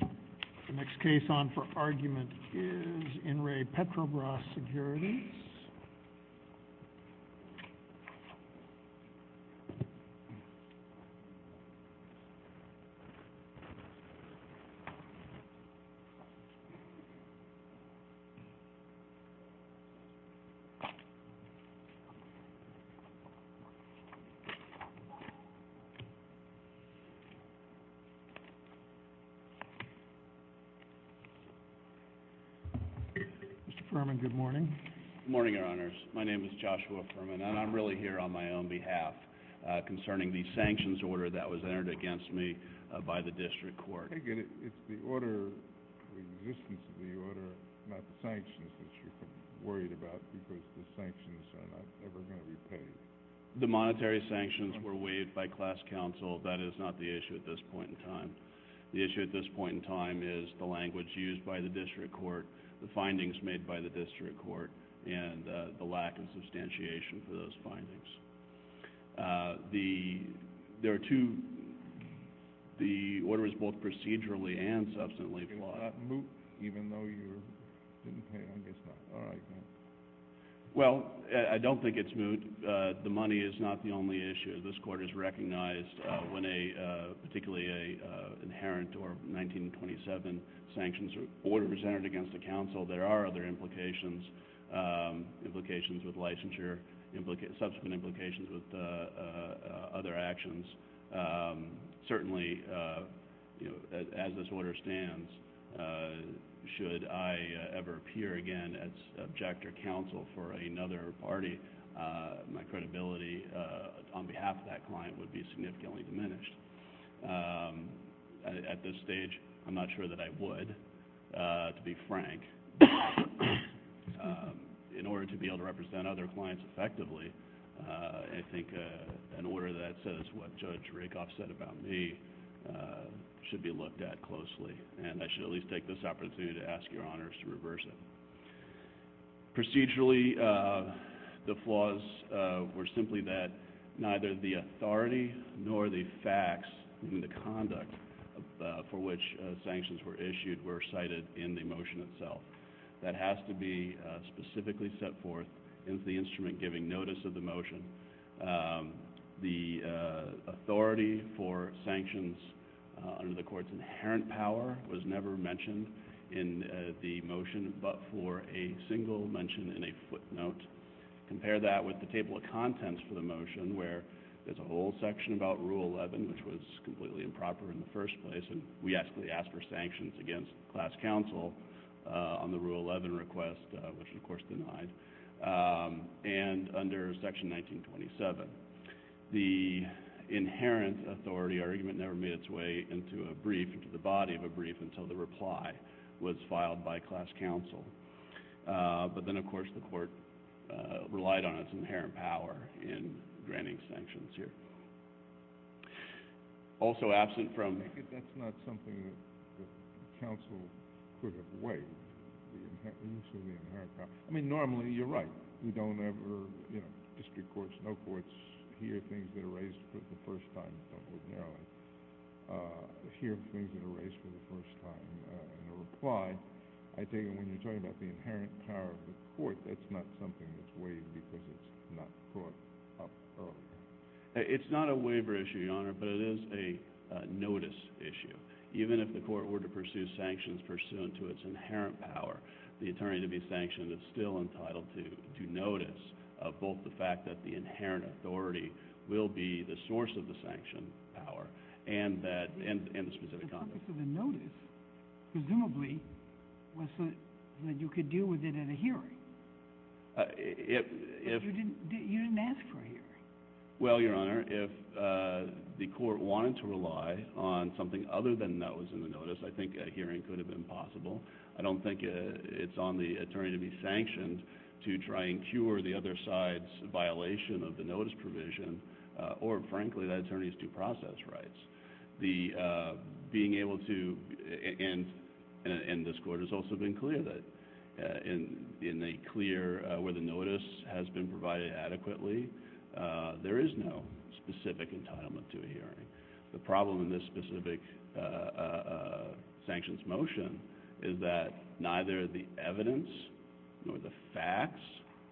The next case on for argument is In Re. Petrobras Securities. Mr. Fuhrman, good morning. Good morning, Your Honors. My name is Joshua Fuhrman, and I'm really here on my own behalf concerning the sanctions order that was entered against me by the district court. I get it. It's the order, the existence of the order, not the sanctions that you're worried about because the sanctions are not ever going to be paid. The monetary sanctions were waived by class counsel. That is not the issue at this point in time. The issue at this point in time is the language used by the district court, the findings made by the district court, and the lack of substantiation for those findings. There are two, the order is both procedurally and substantively flawed. Is that moot, even though you didn't pay, I guess not, all right then. Well, I don't think it's moot. The money is not the only issue. This court has recognized when a, particularly an inherent or 1927 sanctions order was entered against a counsel, there are other implications, implications with licensure, subsequent implications with other actions. Certainly, as this order stands, should I ever appear again as subject or counsel for a client, half that client would be significantly diminished. At this stage, I'm not sure that I would, to be frank. In order to be able to represent other clients effectively, I think an order that says what Judge Rakoff said about me should be looked at closely, and I should at least take this opportunity to ask your honors to reverse it. Procedurally, the flaws were simply that neither the authority nor the facts in the conduct for which sanctions were issued were cited in the motion itself. That has to be specifically set forth in the instrument giving notice of the motion. The authority for sanctions under the court's inherent power was never mentioned in the motion. It was also mentioned in a footnote. Compare that with the table of contents for the motion, where there's a whole section about Rule 11, which was completely improper in the first place, and we actually asked for sanctions against class counsel on the Rule 11 request, which, of course, denied, and under Section 1927. The inherent authority argument never made its way into a brief, into the body of a brief, until the reply was filed by class counsel. But then, of course, the court relied on its inherent power in granting sanctions here. Also absent from... I think that's not something that counsel could have weighed, the use of the inherent power. I mean, normally, you're right. We don't ever, you know, district courts, no courts, hear things that are raised for the first time in a reply. I think when you're talking about the inherent power of the court, that's not something that's weighed because it's not brought up earlier. It's not a waiver issue, Your Honor, but it is a notice issue. Even if the court were to pursue sanctions pursuant to its inherent power, the attorney to be sanctioned is still entitled to notice of both the fact that the inherent authority will be the source of the sanction power and the specific conduct. The purpose of the notice, presumably, was so that you could deal with it at a hearing. But you didn't ask for a hearing. Well, Your Honor, if the court wanted to rely on something other than notice, I think a hearing could have been possible. I don't think it's on the attorney to be sanctioned to try and cure the other side's violation of the notice provision or, frankly, that attorney's due process rights. Being able to, and this court has also been clear that in a clear, where the notice has been provided adequately, there is no specific entitlement to a hearing. The problem in this specific sanctions motion is that neither the evidence, nor the facts,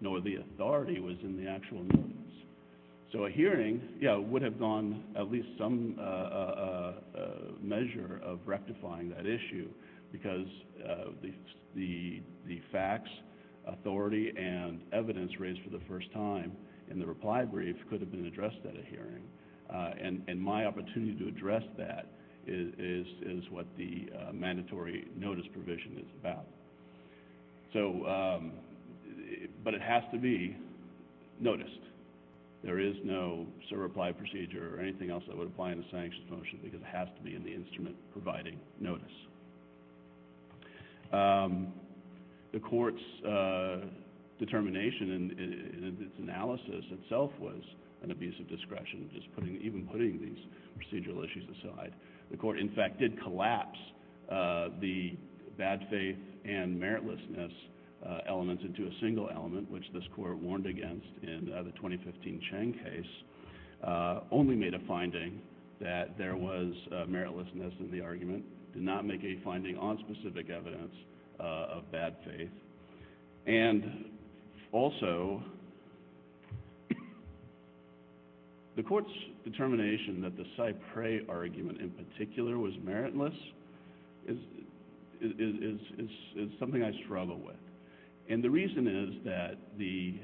nor the authority was in the actual notice. So a hearing, yeah, would have gone at least some measure of rectifying that issue because the facts, authority, and evidence raised for the first time in the reply brief could have been addressed at a hearing. And my opportunity to address that is what the mandatory notice provision is about. So, but it has to be noticed. There is no certify procedure or anything else that would apply in a sanctions motion because it has to be in the instrument providing notice. The court's determination in its analysis itself was an abuse of discretion, even putting these procedural issues aside. The court, in fact, did collapse the bad faith and meritlessness elements into a single element, which this court warned against in the 2015 Chang case. Only made a finding that there was meritlessness in the argument. Did not make a finding on specific evidence of bad faith. And also, the court's determination that the Cypre argument in particular was meritless is something I struggle with. And the reason is that the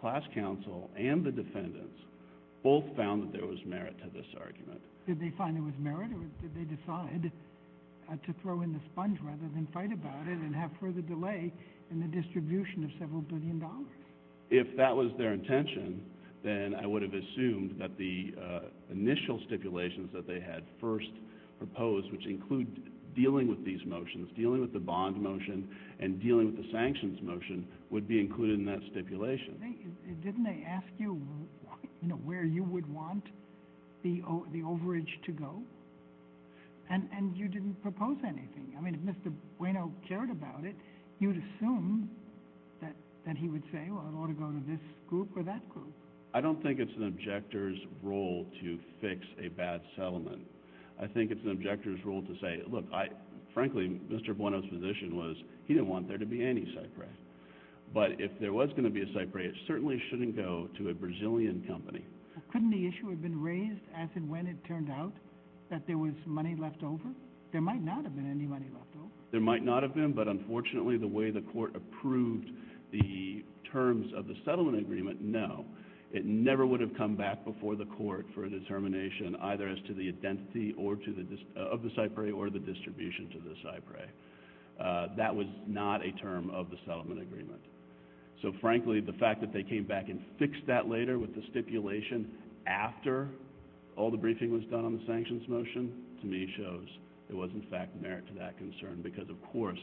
class counsel and the defendants both found that there was merit to this argument. Did they find it was merit or did they decide to throw in the sponge rather than fight about it and have further delay in the distribution of several billion dollars? If that was their intention, then I would have assumed that the initial stipulations that they had first proposed, which include dealing with these motions, dealing with the bond motion, and dealing with the sanctions motion, would be included in that stipulation. Didn't they ask you where you would want the overage to go? And you didn't propose anything. I mean, if Mr. Bueno cared about it, you would assume that he would say, well, it ought to go to this group or that group. I don't think it's an objector's role to fix a bad settlement. I think it's an objector's role to say, look, frankly, Mr. Bueno's position was he didn't want there to be any Cypre. But if there was going to be a Cypre, it certainly shouldn't go to a Brazilian company. Couldn't the issue have been raised as in when it turned out that there was money left over? There might not have been any money left over. There might not have been, but unfortunately, the way the court approved the terms of the settlement agreement, no, it never would have come back before the court for a determination either as to the identity of the Cypre or the distribution to the Cypre. That was not a term of the settlement agreement. So frankly, the fact that they came back and fixed that later with the stipulation after all the briefing was done on the sanctions motion, to me, shows there was in fact merit to that concern because, of course,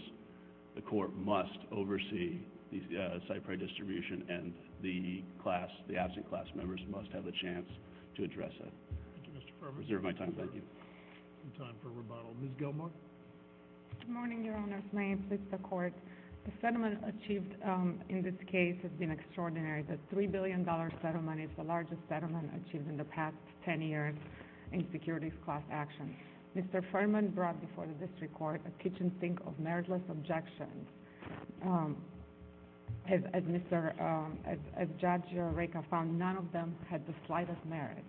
the court must oversee the Cypre distribution and the class, the absent class members must have a chance to address it. Thank you, Mr. Furman. I reserve my time. Thank you. No time for rebuttal. Ms. Gilmour. Good morning, Your Honor. May it please the Court. The settlement achieved in this case has been extraordinary. The $3 billion settlement is the largest settlement achieved in the past 10 years in securities class actions. Mr. Furman brought before the district court a kitchen sink of meritless objections. As Judge Rekha found, none of them had the slightest merit.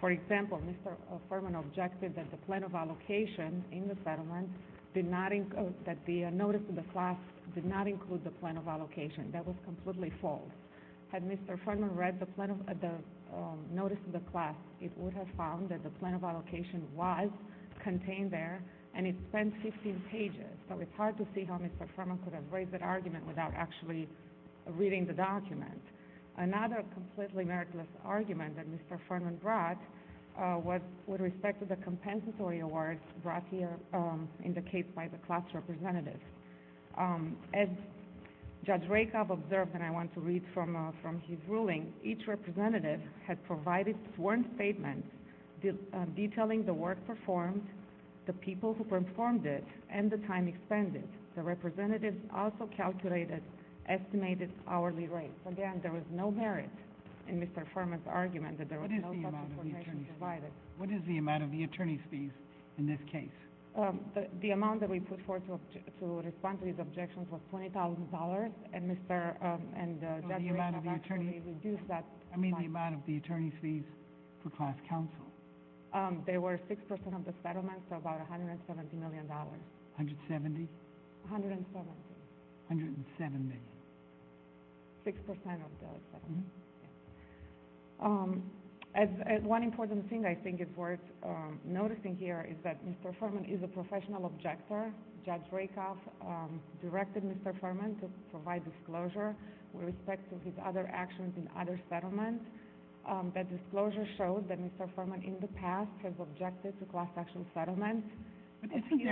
For example, Mr. Furman objected that the plan of allocation in the settlement did not include, that the notice to the class did not include the plan of allocation. That was completely false. Had Mr. Furman read the notice to the class, it would have found that the plan of allocation was contained there, and it spent 15 pages. So it's hard to see how Mr. Furman could have raised that argument without actually reading the document. Another completely meritless argument that Mr. Furman brought was with respect to the compensatory awards brought here in the case by the class representatives. As Judge Rekha observed, and I want to read from his ruling, each representative had provided sworn statements detailing the work performed, the people who performed it, and the time expended. The representatives also calculated estimated hourly rates. Again, there was no merit in Mr. Furman's argument that there was no such information provided. What is the amount of the attorney's fees in this case? The amount that we put forward to respond to his objections was $20,000, and Mr. and Judge Rekha actually reduced that amount. I mean the amount of the attorney's fees for class counsel. They were 6% of the settlement, so about $170 million. 170? 170. 170. 6% of the settlement. One important thing I think is worth noticing here is that Mr. Furman is a professional objector. Judge Rekha directed Mr. Furman to provide disclosure with respect to his other actions in other settlements. That disclosure showed that Mr. Furman in the past has objected to class action settlements. Isn't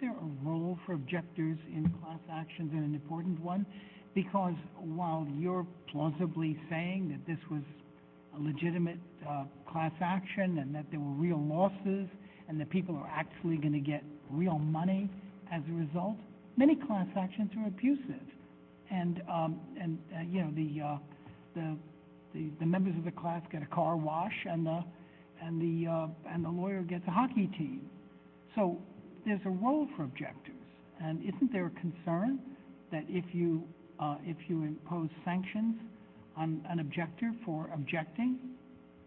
there a role for objectors in class actions, and an important one? Because while you're plausibly saying that this was a legitimate class action and that there were real losses and that people are actually going to get real money as a result, many class actions are abusive. The members of the class get a car wash, and the lawyer gets a hockey team. So there's a role for objectors. Isn't there a concern that if you impose sanctions on an objector for objecting,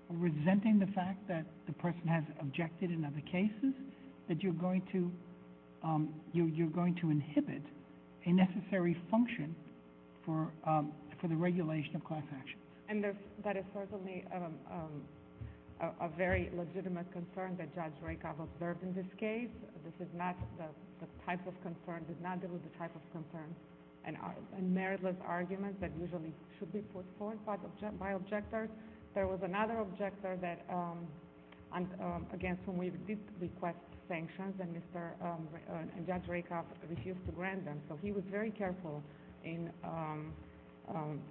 resenting the fact that the person has objected in other cases, that you're going to inhibit a necessary function for the regulation of class actions? That is certainly a very legitimate concern that Judge Rekha observed in this case. This is not the type of concern, did not deal with the type of concern and meritless arguments that usually should be put forth by objectors. There was another objector against whom we did request sanctions, and Judge Rekha refused to grant them. So he was very careful in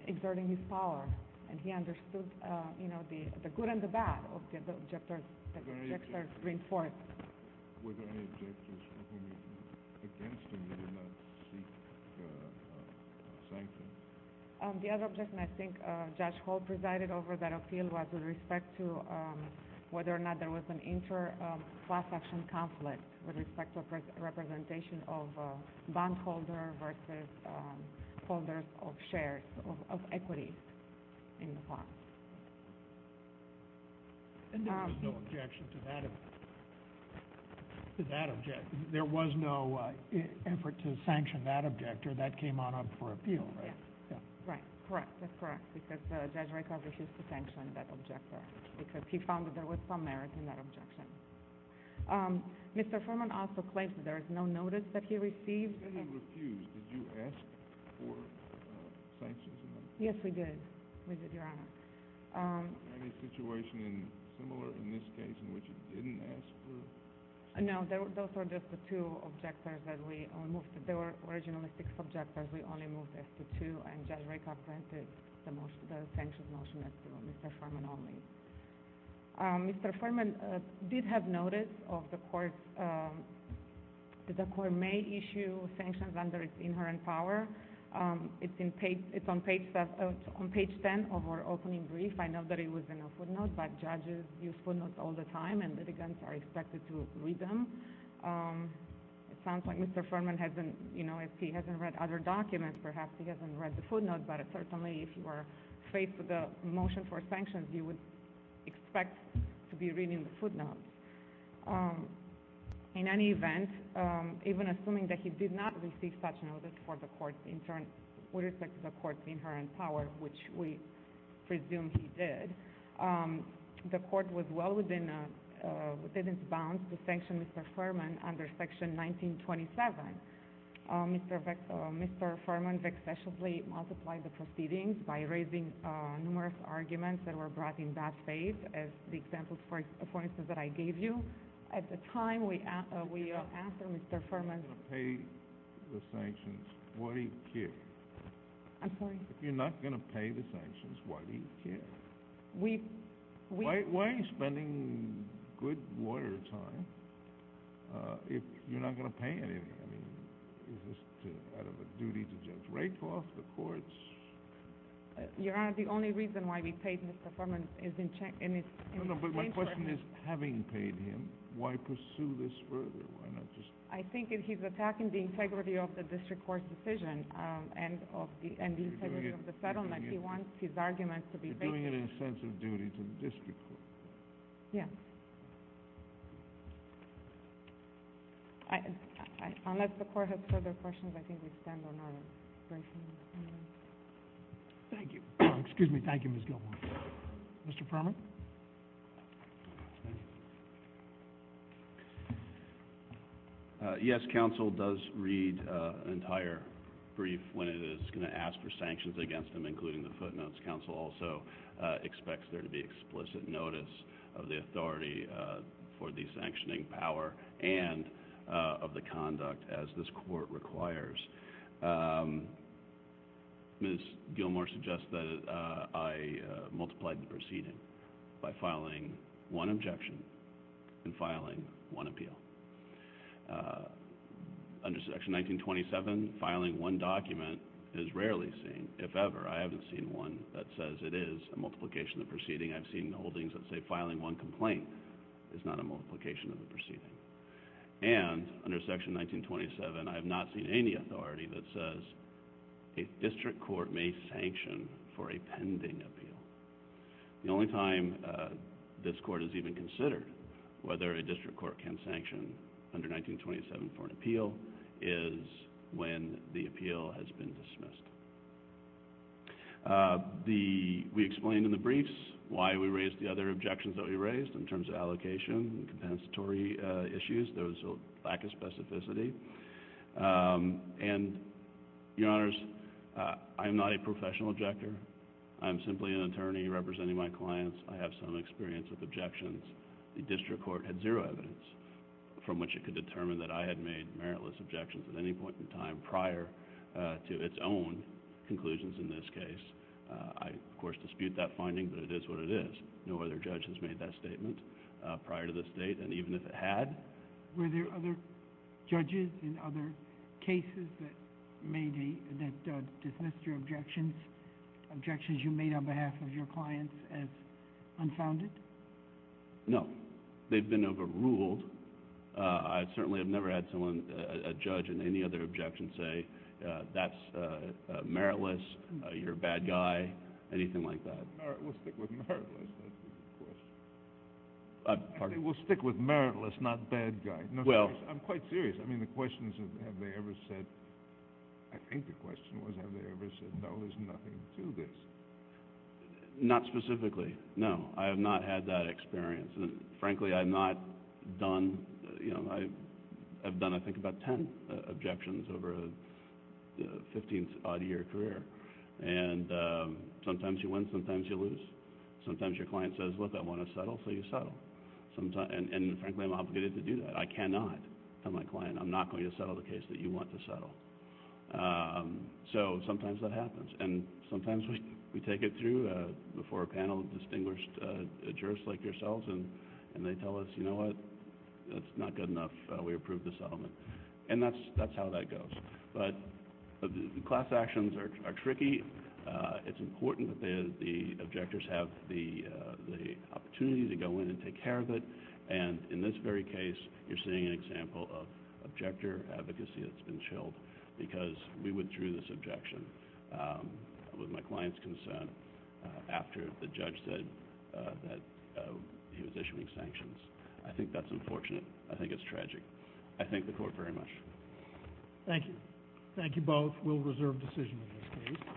exerting his power, and he understood the good and the bad that Were there any objectors against him that did not seek sanctions? The other objection I think Judge Holt presided over that appeal was with respect to whether or not there was an inter-class action conflict with respect to representation of a bondholder versus holders of shares of equities in the bond. And there was no objection to that objection. There was no effort to sanction that objector. That came on up for appeal, right? Right. Correct. That's correct, because Judge Rekha refused to sanction that objector, because he found that there was some merit in that objection. Mr. Furman also claims that there is no notice that he received. He said he refused. Did you ask for sanctions? Yes, we did. We did, Your Honor. Any situation similar in this case in which he didn't ask for sanctions? No. Those were just the two objectors that we moved. They were originalistic subjectors. We only moved them to two, and Judge Rekha granted the sanctions motion to Mr. Furman Mr. Furman did have notice of the court's—the court may issue sanctions under its inherent power. It's on page 10 of our opening brief. I know that it was in a footnote, but judges use footnotes all the time, and litigants are expected to read them. It sounds like Mr. Furman hasn't—you know, if he hasn't read other documents, perhaps he hasn't read the footnote, but certainly if you were faced with a motion for sanctions, you would expect to be reading the footnote. In any event, even assuming that he did not receive such notice for the court's—with respect to the court's inherent power, which we presume he did, the court was well within its bounds to sanction Mr. Furman under Section 1927. Mr. Furman vexatiously multiplied the proceedings by raising numerous arguments that were brought in that phase, as the example, for instance, that I gave you. At the time, we asked Mr. Furman— If you're not going to pay the sanctions, why do you care? I'm sorry? If you're not going to pay the sanctions, why do you care? We— Why are you spending good lawyer time if you're not going to pay anything? I mean, is this out of a duty to Judge Rakoff, the courts? Your Honor, the only reason why we paid Mr. Furman is in exchange for— No, no, but my question is, having paid him, why pursue this further? Why not just— I think if he's attacking the integrity of the district court's decision and the integrity of the settlement, he wants his arguments to be based on— You're doing it in a sense of duty to the district court. Yes. Unless the court has further questions, I think we stand on our briefing. Thank you. Excuse me. Thank you, Ms. Gilmore. Mr. Furman? Yes, counsel does read an entire brief when it is going to ask for sanctions against him, including the footnotes. Counsel also expects there to be explicit notice of the authority for the sanctioning power and of the conduct as this court requires. Ms. Gilmore suggests that I multiply the proceeding by filing one objection and filing one appeal. Under Section 1927, filing one document is rarely seen. If ever, I haven't seen one that says it is a multiplication of the proceeding. I've seen holdings that say filing one complaint is not a multiplication of the proceeding. And under Section 1927, I have not seen any authority that says a district court may sanction for a pending appeal. The only time this court has even considered whether a district court can sanction under 1927 for an appeal is when the appeal has been dismissed. We explained in the briefs why we raised the other objections that we raised in terms of allocation and compensatory issues. There was a lack of specificity. And, Your Honors, I am not a professional objector. I am simply an attorney representing my clients. I have some experience with objections. The district court had zero evidence from which it could determine that I had made meritless objections at any point in time prior to its own conclusions in this case. I, of course, dispute that finding, but it is what it is. No other judge has made that statement prior to this date, and even if it had... Were there other judges in other cases that dismissed your objections, objections you made on behalf of your clients as unfounded? No. They've been overruled. I certainly have never had a judge in any other objection say, that's meritless, you're a bad guy, anything like that. We'll stick with meritless, that's the question. We'll stick with meritless, not bad guy. I'm quite serious. I mean, the question is, have they ever said... I think the question was, have they ever said, no, there's nothing to this? Not specifically, no. I have not had that experience. Frankly, I've not done... I've done, I think, about ten objections over a 15-odd year career. Sometimes you win, sometimes you lose. Sometimes your client says, look, I want to settle, so you settle. Frankly, I'm obligated to do that. I cannot tell my client, I'm not going to settle the case that you want to settle. Sometimes that happens, and sometimes we take it through before a panel of distinguished jurists like yourselves, and they tell us, you know what, that's not good enough, we approve the settlement. And that's how that goes. But class actions are tricky. It's important that the objectors have the opportunity to go in and take care of it. And in this very case, you're seeing an example of objector advocacy that's been chilled because we withdrew this objection with my client's consent after the judge said that he was issuing sanctions. I think that's unfortunate. I think it's tragic. I thank the Court very much. Thank you. Thank you both. We'll reserve decision in this case.